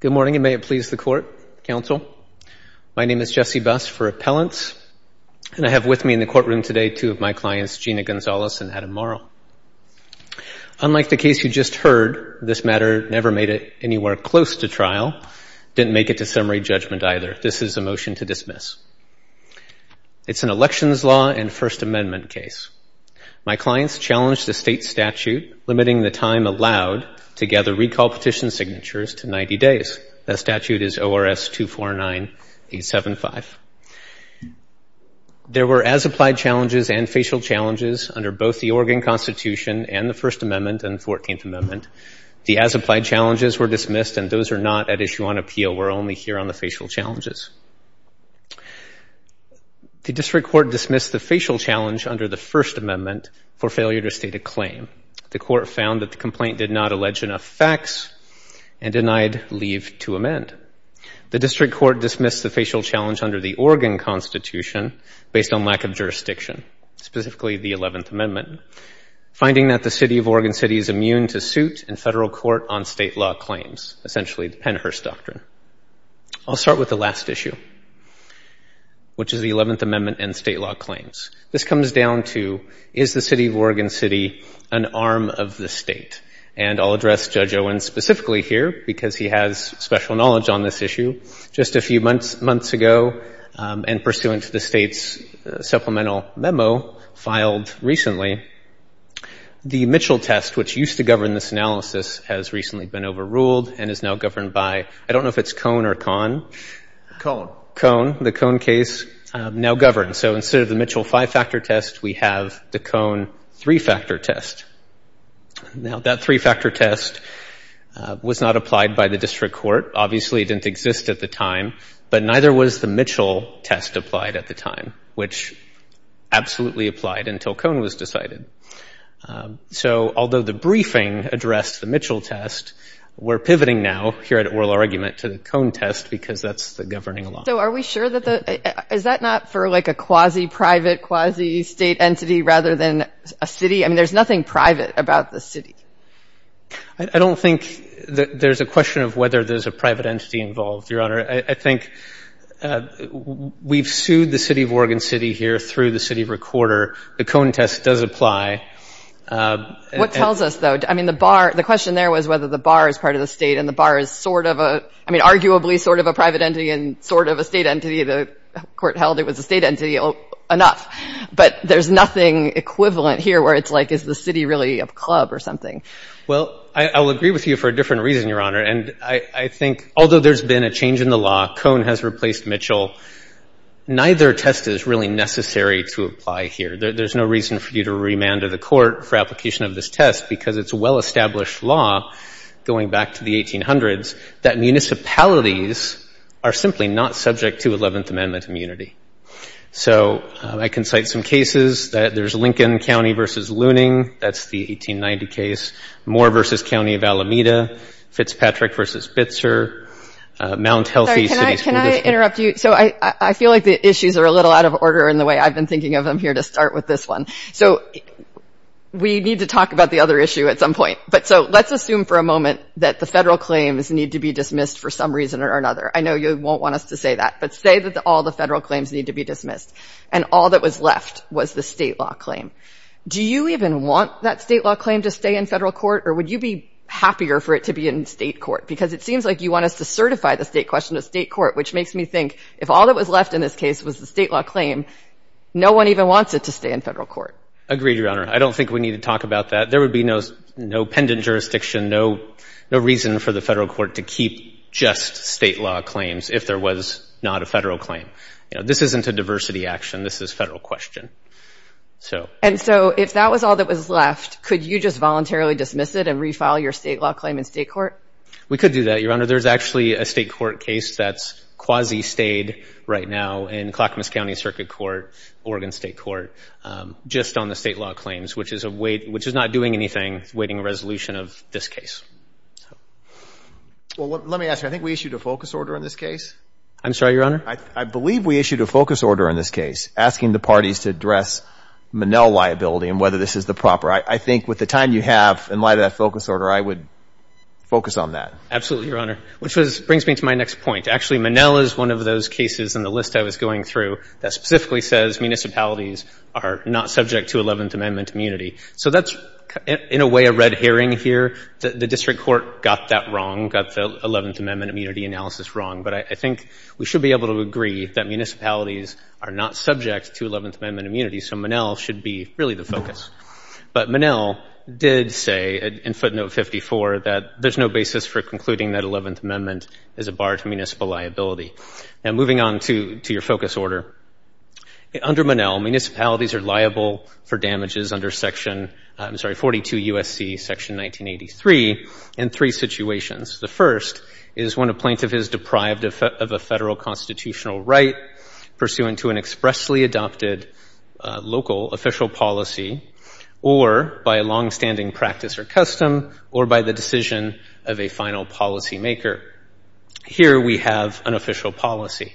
Good morning, and may it please the Court, Counsel. My name is Jesse Buss for Appellants, and I have with me in the courtroom today two of my clients, Gina Gonzalez and Adam Morrow. Unlike the case you just heard, this matter never made it anywhere close to trial, didn't make it to summary judgment either. This is a motion to dismiss. It's an elections law and First Amendment case. My clients challenged the state statute limiting the time allowed to gather recall petition signatures to 90 days. That statute is ORS 249-875. There were as-applied challenges and facial challenges under both the Oregon Constitution and the First Amendment and 14th Amendment. The as-applied challenges were dismissed, and those are not at issue on appeal. We're only here on the facial challenges. The district court dismissed the facial challenge under the First Amendment for failure to state a claim. The court found that the complaint did not allege enough facts and denied leave to amend. The district court dismissed the facial challenge under the Oregon Constitution based on lack of jurisdiction, specifically the 11th Amendment, finding that the city of Oregon City is immune to suit in federal court on state law claims, essentially the Pennhurst Doctrine. I'll start with the last issue, which is the 11th Amendment and state law claims. This comes down to, is the city of Oregon City an arm of the state? And I'll address Judge Owen specifically here, because he has special knowledge on this issue. Just a few months ago, and pursuant to the state's supplemental memo filed recently, the Mitchell test, which used to govern this analysis, has recently been overruled and is now governed by, I don't know if it's Cone or Con. Cone. Cone, the Cone case, now governs. So instead of the Mitchell five-factor test, we have the Cone three-factor test. Now, that three-factor test was not applied by the district court. Obviously, it didn't exist at the time, but neither was the Mitchell test applied at the time, which absolutely applied until Cone was decided. So although the briefing addressed the Mitchell test, we're pivoting now, here at Oral Argument, to the Cone test, because that's the governing law. So are we sure that the — is that not for, like, a quasi-private, quasi-state entity rather than a city? I mean, there's nothing private about the city. I don't think there's a question of whether there's a private entity involved, Your Honor. I think we've sued the city of Oregon City here through the city recorder. The Cone test does apply. What tells us, though? I mean, the bar — the question there was whether the bar is part of the state, and the bar is sort of a — I mean, arguably sort of a private entity and sort of a state entity. The court held it was a state entity enough, but there's nothing equivalent here where it's like, is the city really a club or something? Well, I will agree with you for a different reason, Your Honor, and I think although there's been a change in the law, Cone has replaced Mitchell, neither test is really necessary to apply here. There's no reason for you to remand to the court for application of this test because it's a well-established law going back to the 1800s that municipalities are simply not subject to Eleventh Amendment immunity. So I can cite some cases that there's Lincoln County v. Looning. That's the 1890 case. Moore v. County of Alameda. Fitzpatrick v. Bitzer. Mount Healthy City School District. So I feel like the issues are a little out of order in the way I've been thinking of them here to start with this one. So we need to talk about the other issue at some point. But so let's assume for a moment that the federal claims need to be dismissed for some reason or another. I know you won't want us to say that, but say that all the federal claims need to be dismissed and all that was left was the state law claim. Do you even want that state law claim to stay in federal court, or would you be happier for it to be in state court? Because it seems like you want us to certify the state question to state court, which makes me think if all that was left in this case was the state law claim, no one even wants it to stay in federal court. Agreed, Your Honor. I don't think we need to talk about that. There would be no pendant jurisdiction, no reason for the federal court to keep just state law claims if there was not a federal claim. This isn't a diversity action. This is federal question. And so if that was all that was left, could you just voluntarily dismiss it and refile your state law claim in state court? We could do that, Your Honor. There's actually a state court case that's quasi-stayed right now in Clackamas County Circuit Court, Oregon State Court, just on the state law claims, which is not doing anything awaiting a resolution of this case. Let me ask you, I think we issued a focus order in this case. I'm sorry, Your Honor? I believe we issued a focus order in this case asking the parties to address Monell liability and whether this is the proper. I think with the time you have in light of that focus order, I would focus on that. Absolutely, Your Honor, which brings me to my next point. Actually, Monell is one of those cases in the list I was going through that specifically says municipalities are not subject to Eleventh Amendment immunity. So that's, in a way, a red herring here. The district court got that wrong, got the Eleventh Amendment immunity analysis wrong. But I think we should be able to agree that municipalities are not subject to Eleventh Amendment immunity. So Monell should be really the focus. But Monell did say in footnote 54 that there's no basis for concluding that Eleventh Amendment is a bar to municipal liability. And moving on to your focus order, under Monell, municipalities are liable for damages under section 42 U.S.C. section 1983 in three situations. The first is when a plaintiff is deprived of a federal constitutional right pursuant to an expressly adopted local official policy or by a longstanding practice or custom or by the decision of a final policymaker. Here we have an official policy.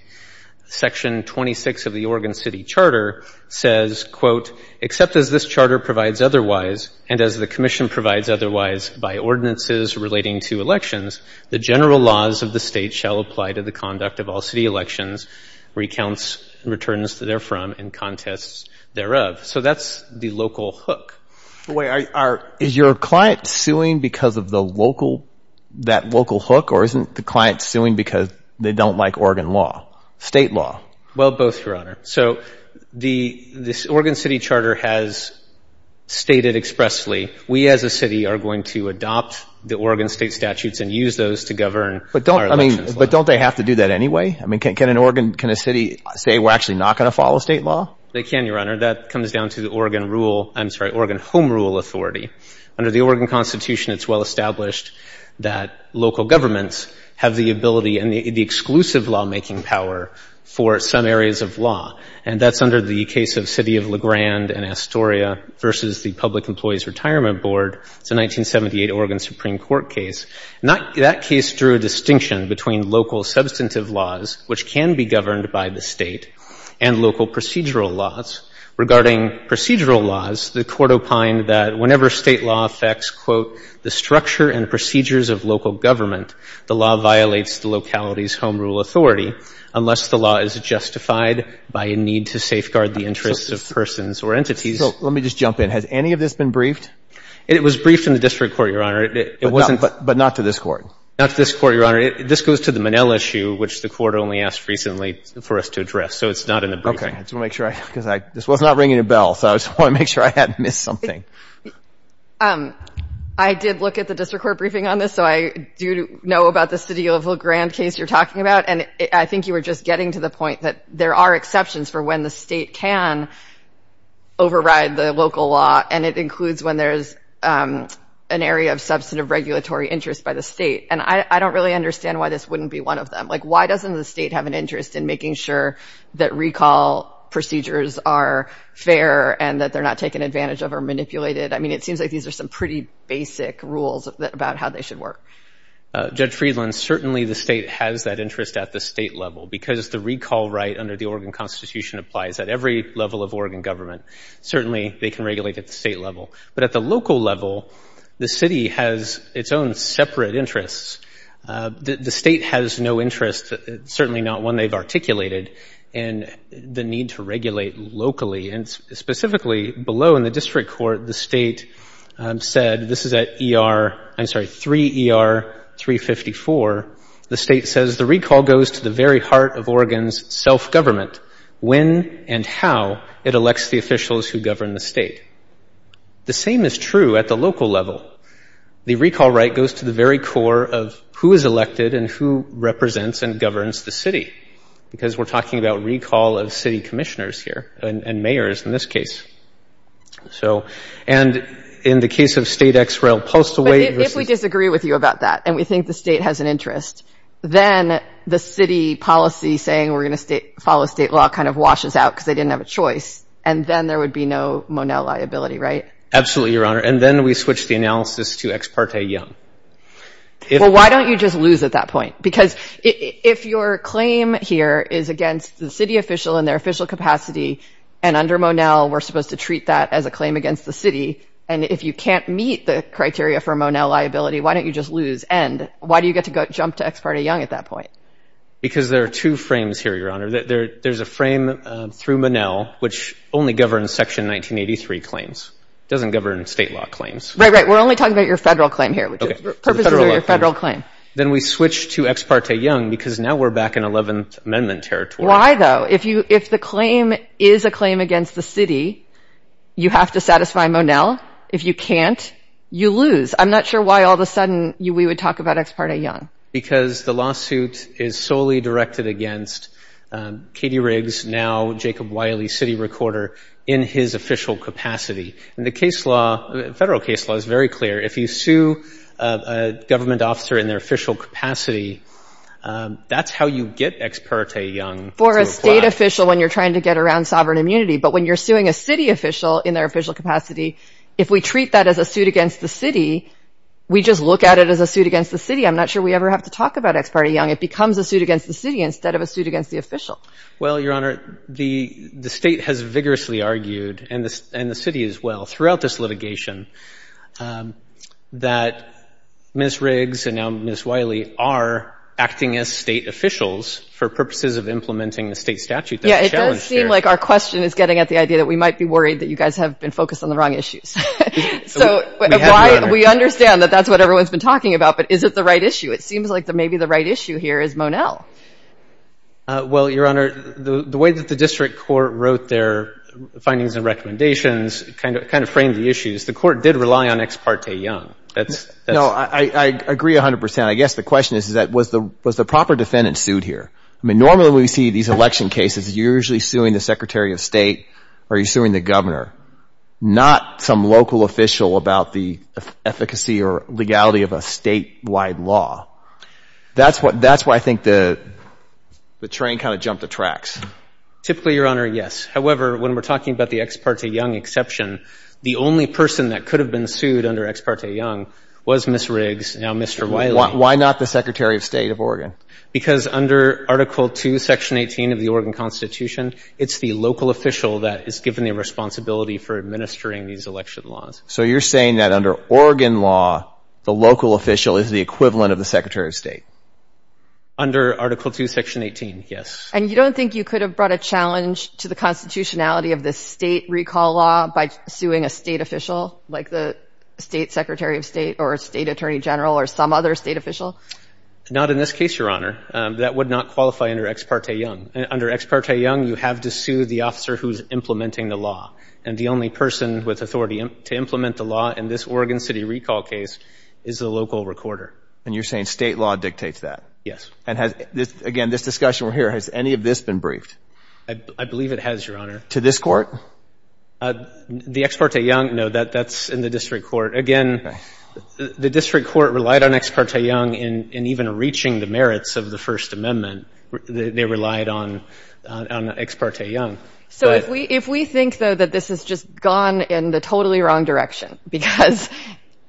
Section 26 of the Oregon City Charter says, quote, except as this charter provides otherwise and as the commission provides otherwise by ordinances relating to elections, the general laws of the state shall apply to the conduct of all city elections, recounts, and returns therefrom, and contests thereof. So that's the local hook. Is your client suing because of that local hook or isn't the client suing because they don't like Oregon law, state law? Well, both, Your Honor. So the, this Oregon City Charter has stated expressly, we as a city are going to adopt the Oregon state statutes and use those to govern our elections. But don't, I mean, but don't they have to do that anyway? I mean, can an Oregon, can a city say we're actually not going to follow state law? They can, Your Honor. That comes down to the Oregon rule, I'm sorry, Oregon Home Rule Authority. Under the Oregon Constitution, it's well established that local governments have the ability and the exclusive lawmaking power for some areas of law. And that's under the case of City of La Grande and Astoria versus the Public Employees Retirement Board. It's a 1978 Oregon Supreme Court case. That case drew a distinction between local substantive laws, which can be governed by the State, and local procedural laws. Regarding procedural laws, the Court opined that whenever State law affects, quote, the structure and procedures of local government, the law violates the locality's home rule authority unless the law is justified by a need to safeguard the interests of persons or entities. So let me just jump in. Has any of this been briefed? It was briefed in the District Court, Your Honor. But not to this Court? Not to this Court, Your Honor. This goes to the Monell issue, which the Court only asked recently for us to address. So it's not in the briefing. I just want to make sure I had missed something. I did look at the District Court briefing on this, so I do know about the City of La Grande case you're talking about. And I think you were just getting to the point that there are exceptions for when the State can override the local law, and it includes when there's an area of substantive regulatory interest by the State. And I don't really understand why this wouldn't be one of them. Like, why doesn't the State have an interest in making sure that recall procedures are fair and that they're not taken advantage of or manipulated? I mean, it seems like these are some pretty basic rules about how they should work. Judge Friedland, certainly the State has that interest at the State level, because the recall right under the Oregon Constitution applies at every level of Oregon government. Certainly they can regulate at the State level. But at the local level, the City has its own separate interests. The State has no interest, certainly not one they've articulated, in the need to regulate locally. And specifically, below in the District Court, the State said, this is at E.R. I'm sorry, 3 E.R. 354. The State says the recall goes to the very heart of Oregon's self-government, when and how it elects the officials who govern the State. The same is true at the local level. The recall right goes to the very core of who is elected and who represents and governs the City, because we're talking about recall of City commissioners here, and mayors in this case. So, and in the case of State X-Rail Postal Wait versus- But if we disagree with you about that, and we think the State has an interest, then the City policy saying we're going to follow State law kind of washes out because they didn't have a choice, and then there would be no Monell liability, right? Absolutely, Your Honor. And then we switch the analysis to Ex parte Young. Well, why don't you just lose at that point? Because if your claim here is against the City official in their official capacity, and under Monell we're supposed to treat that as a claim against the City, and if you can't meet the criteria for Monell liability, why don't you just lose? And why do you get to jump to Ex parte Young at that point? Because there are two frames here, Your Honor. There's a frame through Monell, which only governs Section 1983 claims. It doesn't govern State law claims. Then we switch to Ex parte Young because now we're back in Eleventh Amendment territory. Why, though? If the claim is a claim against the City, you have to satisfy Monell. If you can't, you lose. I'm not sure why all of a sudden we would talk about Ex parte Young. Because the lawsuit is solely directed against Katie Riggs, now Jacob Wiley, City recorder, in his official capacity. And the case law, federal case law, is very clear. If you sue a government officer in their official capacity, that's how you get Ex parte Young to apply. For a State official when you're trying to get around sovereign immunity, but when you're suing a City official in their official capacity, if we treat that as a suit against the City, we just look at it as a suit against the City. I'm not sure we ever have to talk about Ex parte Young. It becomes a suit against the City instead of a suit against the official. Well, Your Honor, the State has vigorously argued, and the City as well, throughout this litigation, that Ms. Riggs and now Ms. Wiley are acting as State officials for purposes of implementing the State statute that was challenged here. Yeah, it does seem like our question is getting at the idea that we might be worried that you guys have been focused on the wrong issues. So we understand that that's what everyone's been talking about, but is it the right issue? It seems like maybe the right issue here is Monell. Well, Your Honor, the way that the District Court wrote their findings and recommendations kind of framed the issues. The Court did rely on Ex parte Young. No, I agree 100 percent. I guess the question is, was the proper defendant sued here? Normally when we see these election cases, you're usually suing the Secretary of State or you're suing the Governor, not some local official about the efficacy or legality of a State-wide law. That's why I think the train kind of jumped the tracks. Typically, Your Honor, yes. However, when we're talking about the Ex parte Young exception, the only person that could have been sued under Ex parte Young was Ms. Riggs, now Mr. Wiley. Why not the Secretary of State of Oregon? Because under Article II, Section 18 of the Oregon Constitution, it's the local official that is given the responsibility for administering these election laws. So you're saying that under Oregon law, the local official is the equivalent of the Secretary of State? Under Article II, Section 18, yes. And you don't think you could have brought a challenge to the constitutionality of the State recall law by suing a State official, like the State Secretary of State or a State Attorney General or some other State official? Not in this case, Your Honor. That would not qualify under Ex parte Young. Under Ex parte Young, you have to sue the officer who's implementing the law. And the only person with authority to implement the law in this Oregon City recall case is the local recorder. And you're saying State law dictates that? Yes. And has, again, this discussion we're hearing, has any of this been briefed? I believe it has, Your Honor. To this Court? The Ex parte Young, no, that's in the district court. Again, the district court relied on Ex parte Young in even reaching the merits of the First Amendment. They relied on Ex parte Young. So if we think, though, that this has just gone in the totally wrong direction, because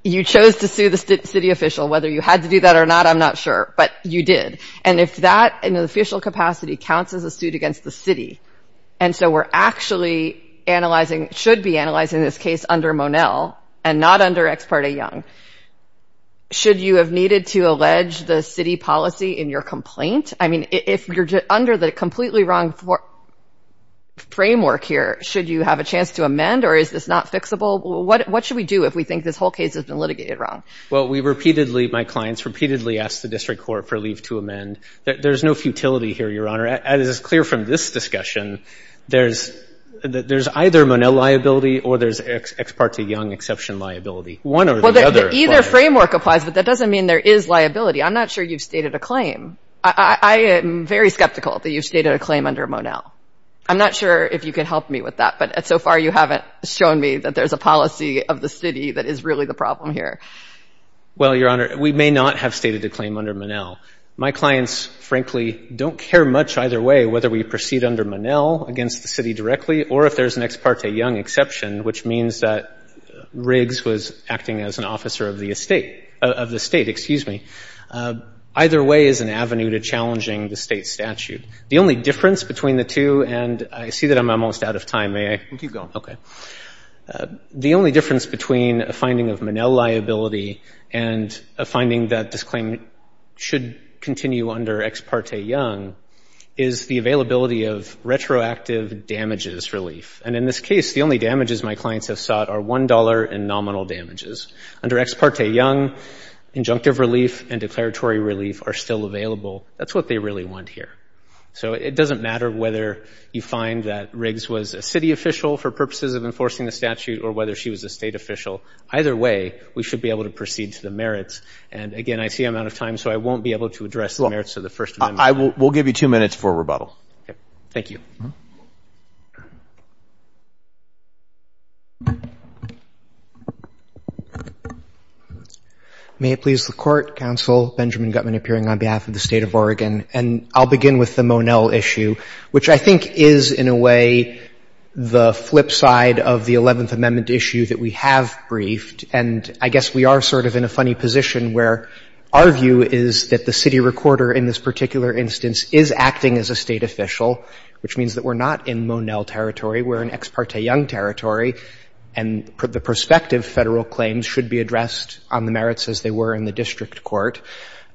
you chose to sue the City official, whether you had to do that or not, I'm not sure, but you did. And if that in an official capacity counts as a suit against the City, and so we're actually analyzing, should be analyzing this case under Monell and not under Ex parte Young, should you have needed to allege the City policy in your complaint? I mean, if you're under the completely wrong framework here, should you have a chance to amend, or is this not fixable? What should we do if we think this whole case has been litigated wrong? Well, we repeatedly, my clients, repeatedly ask the district court for leave to amend. There's no futility here, Your Honor. As is clear from this discussion, there's either Monell liability or there's Ex parte Young exception liability, one or the other. Well, either framework applies, but that doesn't mean there is liability. I'm not sure you've stated a claim. I am very skeptical that you've stated a claim under Monell. I'm not sure if you can help me with that, but so far you haven't shown me that there's a policy of the City that is really the problem here. Well, Your Honor, we may not have stated a claim under Monell. My clients, frankly, don't care much either way whether we proceed under Monell against the City directly or if there's an Ex parte Young exception, which means that Riggs was acting as an officer of the estate, of the state, excuse me. Either way is an avenue to challenging the state statute. The only difference between the two, and I see that I'm almost out of time. May I? You can keep going. Okay. The only difference between a finding of Monell liability and a finding that this claim should continue under Ex parte Young is the availability of retroactive damages relief. And in this case, the only damages my clients have sought are $1 in nominal damages. Under Ex parte Young, injunctive relief and declaratory relief are still available. That's what they really want here. So it doesn't matter whether you find that Riggs was a City official for purposes of enforcing the statute or whether she was a state official. Either way, we should be able to proceed to the merits. And again, I see I'm out of time, so I won't be able to address the merits of the first amendment. We'll give you two minutes for rebuttal. Thank you. May it please the Court. Counsel Benjamin Gutmann appearing on behalf of the State of Oregon. And I'll begin with the Monell issue, which I think is in a way the flip side of the Eleventh Amendment issue that we have briefed. And I guess we are sort of in a funny position where our view is that the city recorder in this particular instance is acting as a State official, which means that we're not in Monell territory. We're in Ex parte Young territory. And the prospective Federal claims should be addressed on the merits as they were in the district court.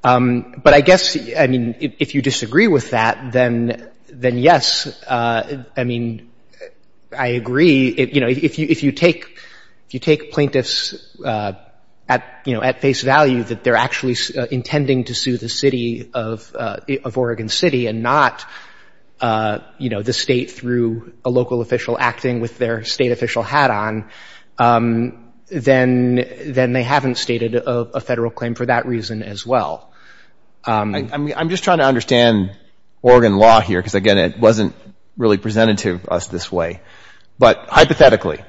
But I guess, I mean, if you disagree with that, then yes, I mean, I agree. You know, if you take plaintiffs at face value that they're actually intending to sue the city of Oregon City and not, you know, the State through a local official acting with their State official hat on, then they haven't stated a Federal claim for that reason as well. I'm just trying to understand Oregon law here because, again, it wasn't really presented to us this way. But hypothetically,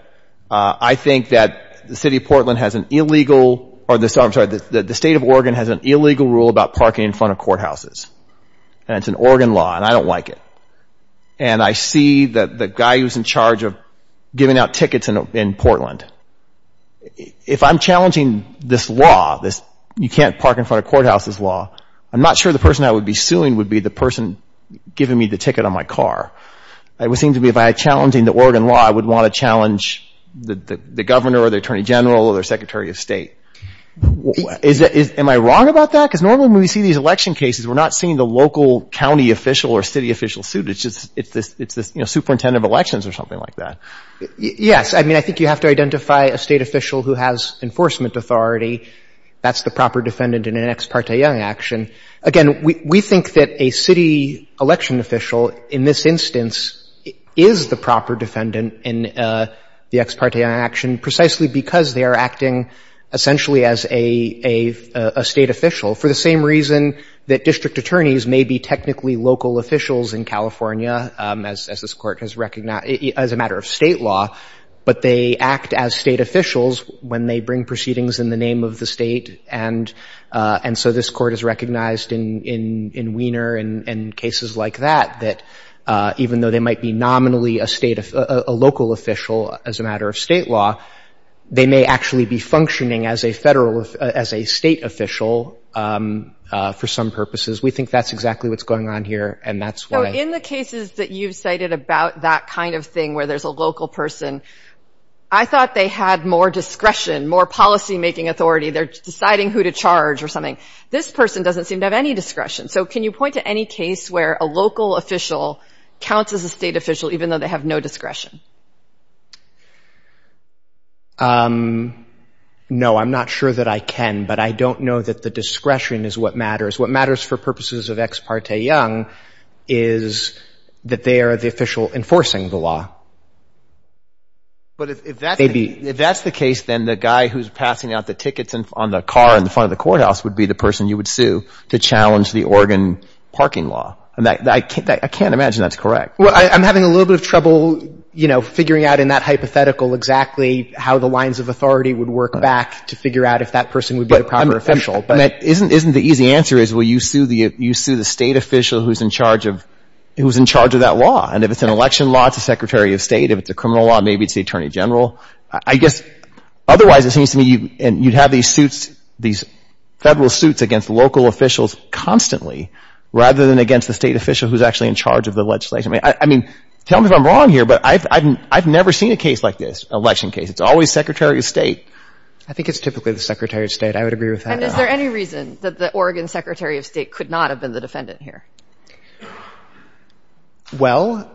I think that the City of Portland has an illegal or the State of Oregon has an illegal rule about parking in front of courthouses. And it's an Oregon law, and I don't like it. And I see the guy who's in charge of giving out tickets in Portland. If I'm challenging this law, this you can't park in front of courthouses law, I'm not sure the person I would be suing would be the person giving me the ticket on my car. It would seem to me if I'm challenging the Oregon law, I would want to challenge the Governor or the Attorney General or their Secretary of State. Am I wrong about that? Because normally when we see these election cases, we're not seeing the local county official or city official sued. It's just it's this, you know, superintendent of elections or something like that. Yes. I mean, I think you have to identify a State official who has enforcement authority. That's the proper defendant in an ex parte action. Again, we think that a city election official in this instance is the proper defendant in the ex parte action precisely because they are acting essentially as a State official. For the same reason that district attorneys may be technically local officials in California, as this Court has recognized, as a matter of State law, but they act as State officials when they bring proceedings in the name of the State. And so this Court has recognized in Wiener and cases like that, even though they might be nominally a local official as a matter of State law, they may actually be functioning as a State official for some purposes. We think that's exactly what's going on here, and that's why. So in the cases that you've cited about that kind of thing where there's a local person, I thought they had more discretion, more policymaking authority. They're deciding who to charge or something. This person doesn't seem to have any discretion. So can you point to any case where a local official counts as a State official, even though they have no discretion? No, I'm not sure that I can, but I don't know that the discretion is what matters. What matters for purposes of ex parte Young is that they are the official enforcing the law. But if that's the case, then the guy who's passing out the tickets on the car in front of the courthouse would be the person you would sue to challenge the Oregon parking law. I can't imagine that's correct. Well, I'm having a little bit of trouble, you know, figuring out in that hypothetical exactly how the lines of authority would work back to figure out if that person would be the proper official. Isn't the easy answer is, well, you sue the State official who's in charge of that law. And if it's an election law, it's the Secretary of State. If it's a criminal law, maybe it's the Attorney General. I guess otherwise it seems to me you'd have these suits, these Federal suits against local officials constantly rather than against the State official who's actually in charge of the legislation. I mean, tell me if I'm wrong here, but I've never seen a case like this, an election case. It's always Secretary of State. I think it's typically the Secretary of State. I would agree with that. And is there any reason that the Oregon Secretary of State could not have been the defendant here? Well,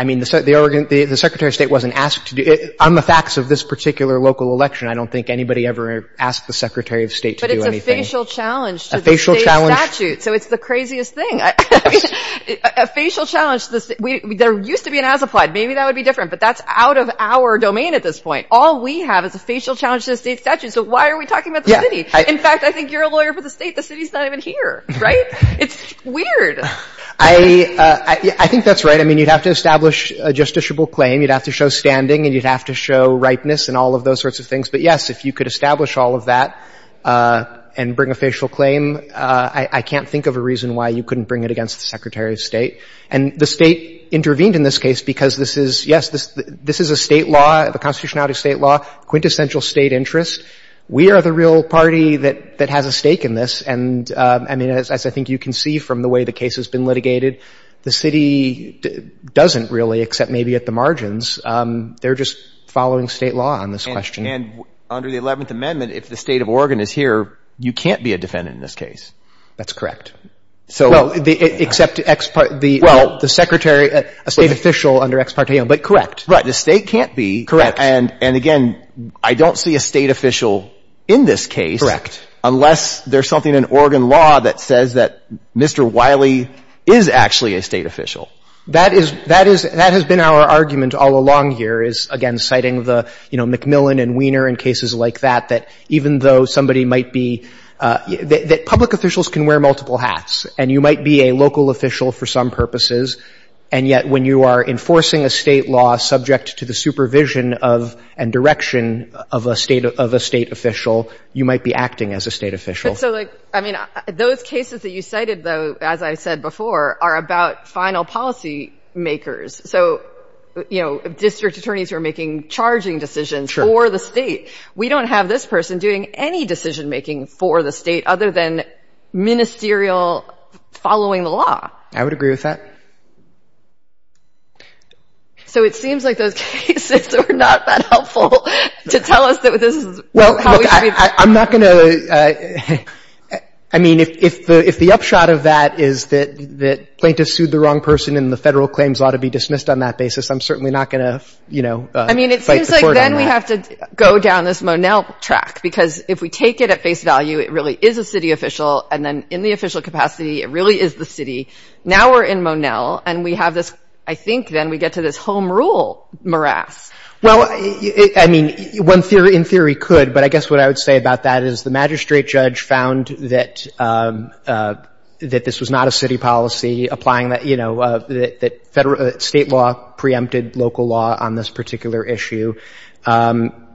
I mean, the Secretary of State wasn't asked to do it. On the facts of this particular local election, I don't think anybody ever asked the Secretary of State to do anything. But it's a facial challenge to the State statute. A facial challenge. So it's the craziest thing. I mean, a facial challenge. There used to be an as-applied. Maybe that would be different, but that's out of our domain at this point. All we have is a facial challenge to the State statute. So why are we talking about the City? In fact, I think you're a lawyer for the State. The City's not even here. Right? It's weird. I think that's right. I mean, you'd have to establish a justiciable claim. You'd have to show standing and you'd have to show ripeness and all of those sorts of things. But, yes, if you could establish all of that and bring a facial claim, I can't think of a reason why you couldn't bring it against the Secretary of State. And the State intervened in this case because this is, yes, this is a State law, a constitutionality State law, quintessential State interest. We are the real party that has a stake in this. And, I mean, as I think you can see from the way the case has been litigated, the City doesn't really, except maybe at the margins. They're just following State law on this question. And under the 11th Amendment, if the State of Oregon is here, you can't be a defendant in this case. That's correct. Well, except the Secretary, a State official under ex parte. But correct. Right. The State can't be. Correct. And, again, I don't see a State official in this case. Correct. Unless there's something in Oregon law that says that Mr. Wiley is actually a State official. That is, that has been our argument all along here is, again, citing the, you know, McMillan and Weiner and cases like that, that even though somebody might be, that public officials can wear multiple hats and you might be a local official for some provision of and direction of a State official, you might be acting as a State official. But, so, like, I mean, those cases that you cited, though, as I said before, are about final policy makers. So, you know, district attorneys who are making charging decisions for the State. Sure. We don't have this person doing any decision-making for the State other than ministerial following the law. I would agree with that. So, it seems like those cases are not that helpful to tell us that this is how we should be. Well, look, I'm not going to, I mean, if the upshot of that is that plaintiffs sued the wrong person and the Federal claims ought to be dismissed on that basis, I'm certainly not going to, you know, fight the court on that. I mean, it seems like then we have to go down this Monell track because if we take it at face value, it really is a City official. And then in the official capacity, it really is the City. Now we're in Monell, and we have this, I think then we get to this home rule morass. Well, I mean, in theory could, but I guess what I would say about that is the magistrate judge found that this was not a City policy applying that, you know, that State law preempted local law on this particular issue.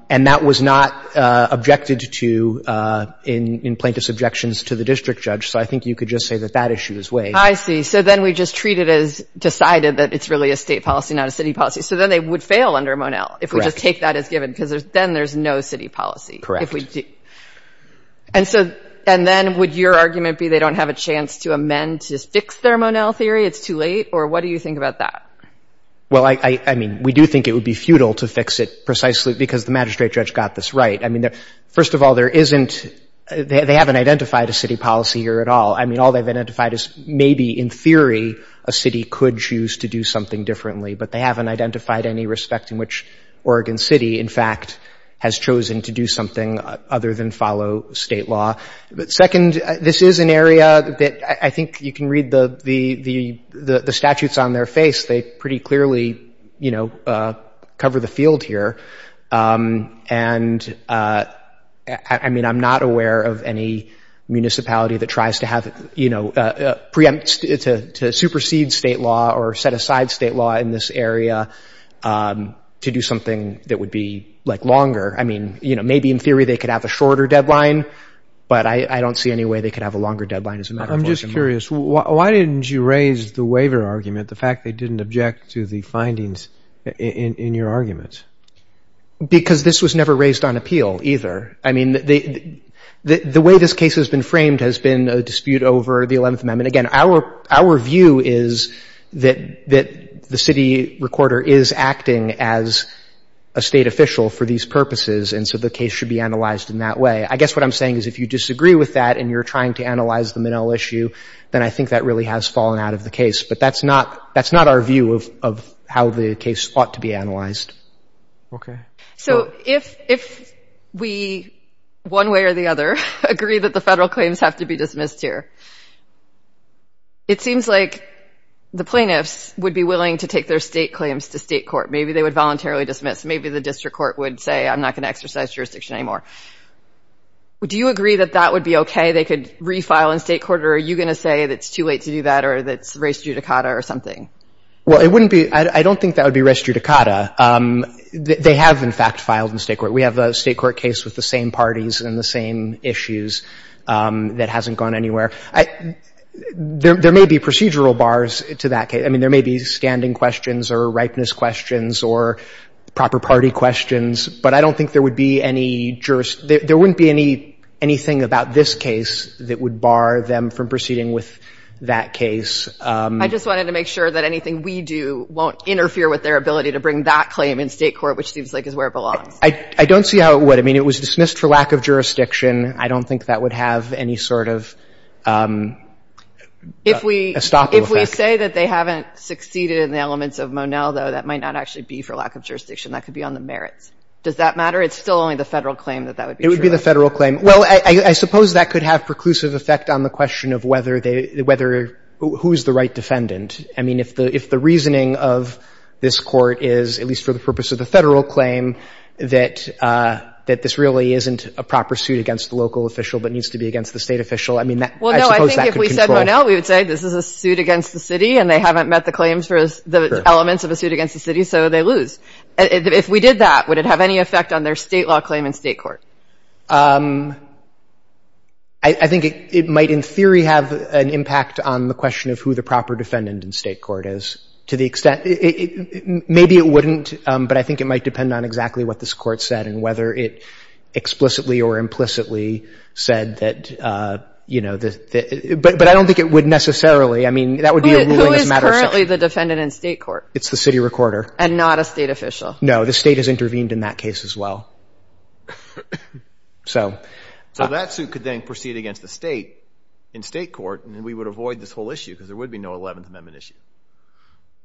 And that was not objected to in plaintiff's objections to the district judge. So I think you could just say that that issue is waived. I see. So then we just treat it as decided that it's really a State policy, not a City policy. So then they would fail under Monell if we just take that as given because then there's no City policy. Correct. And so, and then would your argument be they don't have a chance to amend to fix their Monell theory? It's too late? Or what do you think about that? Well, I mean, we do think it would be futile to fix it precisely because the magistrate judge got this right. I mean, first of all, there isn't, they haven't identified a City policy here at all. I mean, all they've identified is maybe in theory a City could choose to do something differently. But they haven't identified any respect in which Oregon City, in fact, has chosen to do something other than follow State law. Second, this is an area that I think you can read the statutes on their face. They pretty clearly, you know, cover the field here. And, I mean, I'm not aware of any municipality that tries to have, you know, preempt, to supersede State law or set aside State law in this area to do something that would be, like, longer. I mean, you know, maybe in theory they could have a shorter deadline, but I don't see any way they could have a longer deadline as a matter of law. I'm just curious. Why didn't you raise the waiver argument, the fact they didn't object to the findings in your arguments? Because this was never raised on appeal either. I mean, the way this case has been framed has been a dispute over the 11th Amendment. Again, our view is that the City recorder is acting as a State official for these purposes, and so the case should be analyzed in that way. I guess what I'm saying is if you disagree with that and you're trying to analyze the Minnell issue, then I think that really has fallen out of the case. But that's not our view of how the case ought to be analyzed. Okay. So if we, one way or the other, agree that the Federal claims have to be dismissed here, it seems like the plaintiffs would be willing to take their State claims to State court. Maybe they would voluntarily dismiss. Maybe the district court would say, I'm not going to exercise jurisdiction anymore. Do you agree that that would be okay? They could refile in State court, or are you going to say that it's too late to do that or that it's res judicata or something? Well, it wouldn't be. I don't think that would be res judicata. They have, in fact, filed in State court. We have a State court case with the same parties and the same issues that hasn't gone anywhere. There may be procedural bars to that case. I mean, there may be standing questions or ripeness questions or proper party questions, but I don't think there would be any jurisdiction. There wouldn't be anything about this case that would bar them from proceeding with that case. I just wanted to make sure that anything we do won't interfere with their ability to bring that claim in State court, which seems like is where it belongs. I don't see how it would. I mean, it was dismissed for lack of jurisdiction. I don't think that would have any sort of a stopping effect. If we say that they haven't succeeded in the elements of Monell, though, that might not actually be for lack of jurisdiction. That could be on the merits. Does that matter? It's still only the Federal claim that that would be true. It would be the Federal claim. Well, I suppose that could have preclusive effect on the question of whether they – who is the right defendant. I mean, if the reasoning of this Court is, at least for the purpose of the Federal claim, that this really isn't a proper suit against the local official but needs to be against the State official, I mean, I suppose that could control. Well, no, I think if we said Monell, we would say this is a suit against the City and they haven't met the claims for the elements of a suit against the City, so they lose. If we did that, would it have any effect on their State law claim in State court? I think it might in theory have an impact on the question of who the proper defendant in State court is to the extent – maybe it wouldn't, but I think it might depend on exactly what this Court said and whether it explicitly or implicitly said that, you know, the – but I don't think it would necessarily. I mean, that would be a ruling as a matter of fact. Who is currently the defendant in State court? It's the City recorder. And not a State official. No. The State has intervened in that case as well. So. So that suit could then proceed against the State in State court and we would avoid this whole issue because there would be no Eleventh Amendment issue.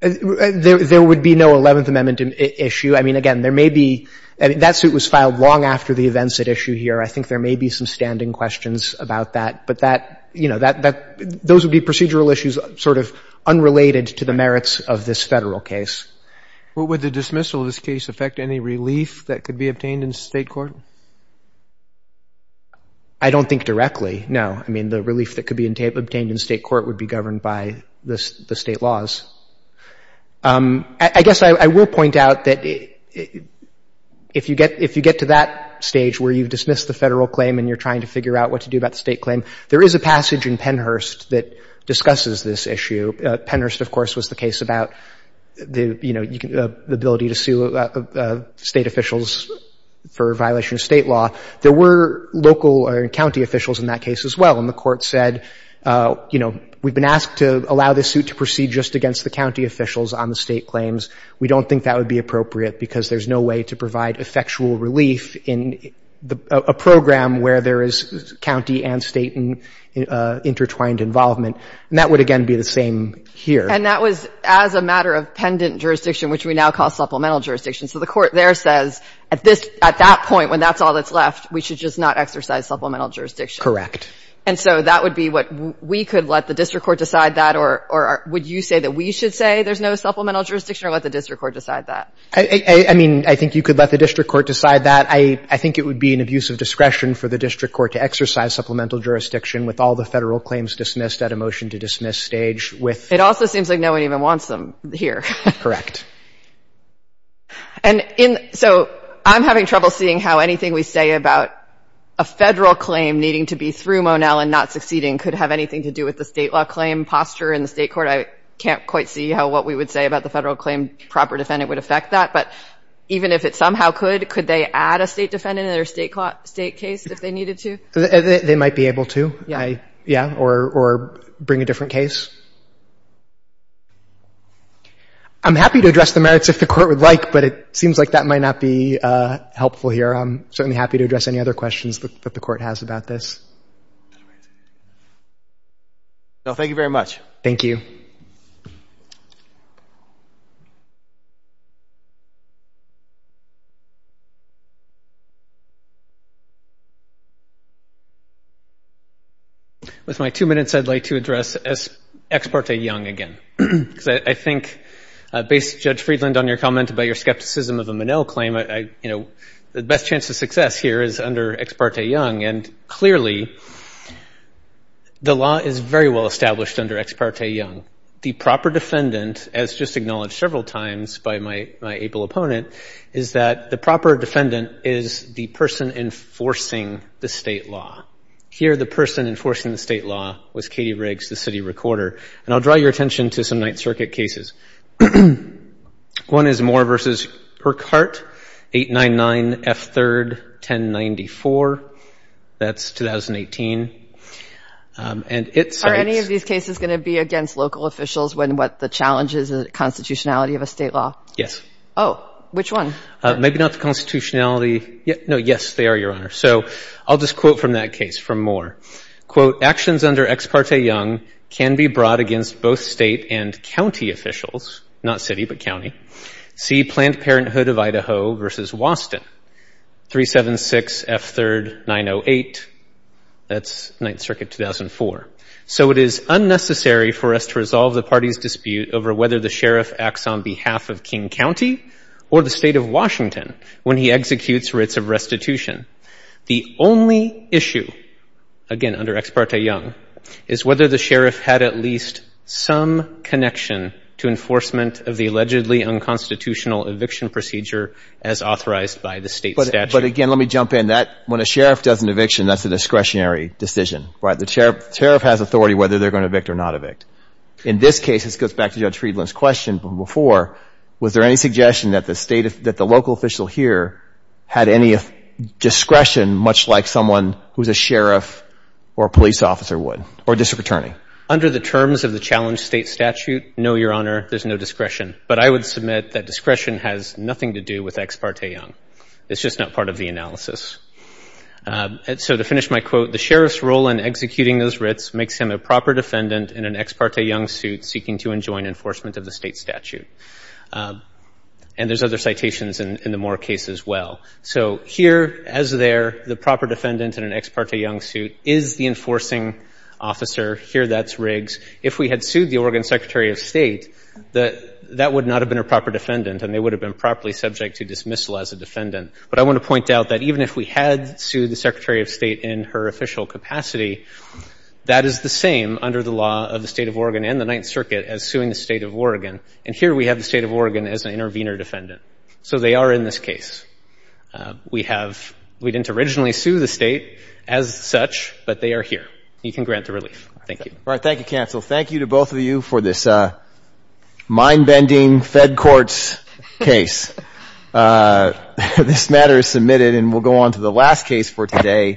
There would be no Eleventh Amendment issue. I mean, again, there may be – that suit was filed long after the events at issue here. I think there may be some standing questions about that, but that – you know, that – those would be procedural issues sort of unrelated to the merits of this Federal case. What would the dismissal of this case affect? Any relief that could be obtained in State court? I don't think directly, no. I mean, the relief that could be obtained in State court would be governed by the State laws. I guess I will point out that if you get – if you get to that stage where you've dismissed the Federal claim and you're trying to figure out what to do about the State claims, there is a passage in Pennhurst that discusses this issue. Pennhurst, of course, was the case about the, you know, the ability to sue State officials for violation of State law. There were local or county officials in that case as well, and the Court said, you know, we've been asked to allow this suit to proceed just against the county officials on the State claims. We don't think that would be appropriate because there's no way to provide effectual relief in a program where there is county and State intertwined involvement. And that would, again, be the same here. And that was as a matter of pendant jurisdiction, which we now call supplemental jurisdiction. So the Court there says at this – at that point when that's all that's left, we should just not exercise supplemental jurisdiction. Correct. And so that would be what we could let the district court decide that, or would you say that we should say there's no supplemental jurisdiction or let the district court decide that? I mean, I think you could let the district court decide that. I think it would be an abuse of discretion for the district court to exercise supplemental jurisdiction with all the Federal claims dismissed at a motion-to-dismiss stage with – It also seems like no one even wants them here. Correct. And in – so I'm having trouble seeing how anything we say about a Federal claim needing to be through Monell and not succeeding could have anything to do with the State law claim posture in the State court. I can't quite see how what we would say about the Federal claim proper defendant would affect that. But even if it somehow could, could they add a State defendant in their State case if they needed to? They might be able to. Yeah. Yeah, or bring a different case. I'm happy to address the merits if the Court would like, but it seems like that might not be helpful here. I'm certainly happy to address any other questions that the Court has about this. No, thank you very much. Thank you. With my two minutes, I'd like to address Ex parte Young again, because I think, based, Judge Friedland, on your comment about your skepticism of a Monell claim, you know, the best chance of success here is under Ex parte Young. And clearly, the law is very well established under Ex parte Young. The proper defendant, as just acknowledged several times by my able opponent, is that the proper defendant is the person enforcing the State law. Here, the person enforcing the State law was Katie Riggs, the city recorder. And I'll draw your attention to some Ninth Circuit cases. One is Moore v. Urquhart, 899 F3, 1094. That's 2018. Are any of these cases going to be against local officials when, what, the challenge is the constitutionality of a State law? Yes. Oh, which one? Maybe not the constitutionality. No, yes, they are, Your Honor. So I'll just quote from that case, from Moore. Quote, actions under Ex parte Young can be brought against both State and county officials. Not city, but county. See Planned Parenthood of Idaho v. Waston, 376 F3, 908. That's Ninth Circuit, 2004. So it is unnecessary for us to resolve the party's dispute over whether the sheriff acts on behalf of King County or the State of Washington when he executes writs of restitution. The only issue, again, under Ex parte Young, is whether the sheriff had at least some connection to enforcement of the allegedly unconstitutional eviction procedure as authorized by the State statute. But, again, let me jump in. That, when a sheriff does an eviction, that's a discretionary decision, right? The sheriff has authority whether they're going to evict or not evict. In this case, this goes back to Judge Friedland's question from before. Was there any suggestion that the state, that the local official here had any discretion, much like someone who's a sheriff or a police officer would, or district attorney? Under the terms of the challenged State statute, no, Your Honor, there's no discretion. But I would submit that discretion has nothing to do with Ex parte Young. It's just not part of the analysis. So to finish my quote, the sheriff's role in executing those writs makes him a proper defendant in an Ex parte Young suit seeking to enjoin enforcement of the State statute. And there's other citations in the Moore case as well. So here, as there, the proper defendant in an Ex parte Young suit is the enforcing officer. Here, that's Riggs. If we had sued the Oregon Secretary of State, that would not have been a proper defendant, and they would have been properly subject to dismissal as a defendant. But I want to point out that even if we had sued the Secretary of State in her official capacity, that is the same under the law of the State of Oregon and the Ninth Circuit as suing the State of Oregon. And here we have the State of Oregon as an intervener defendant. So they are in this case. We have — we didn't originally sue the State as such, but they are here. You can grant the relief. Thank you. All right. Thank you, counsel. Thank you to both of you for this mind-bending Fed courts case. This matter is submitted, and we'll go on to the last case for today.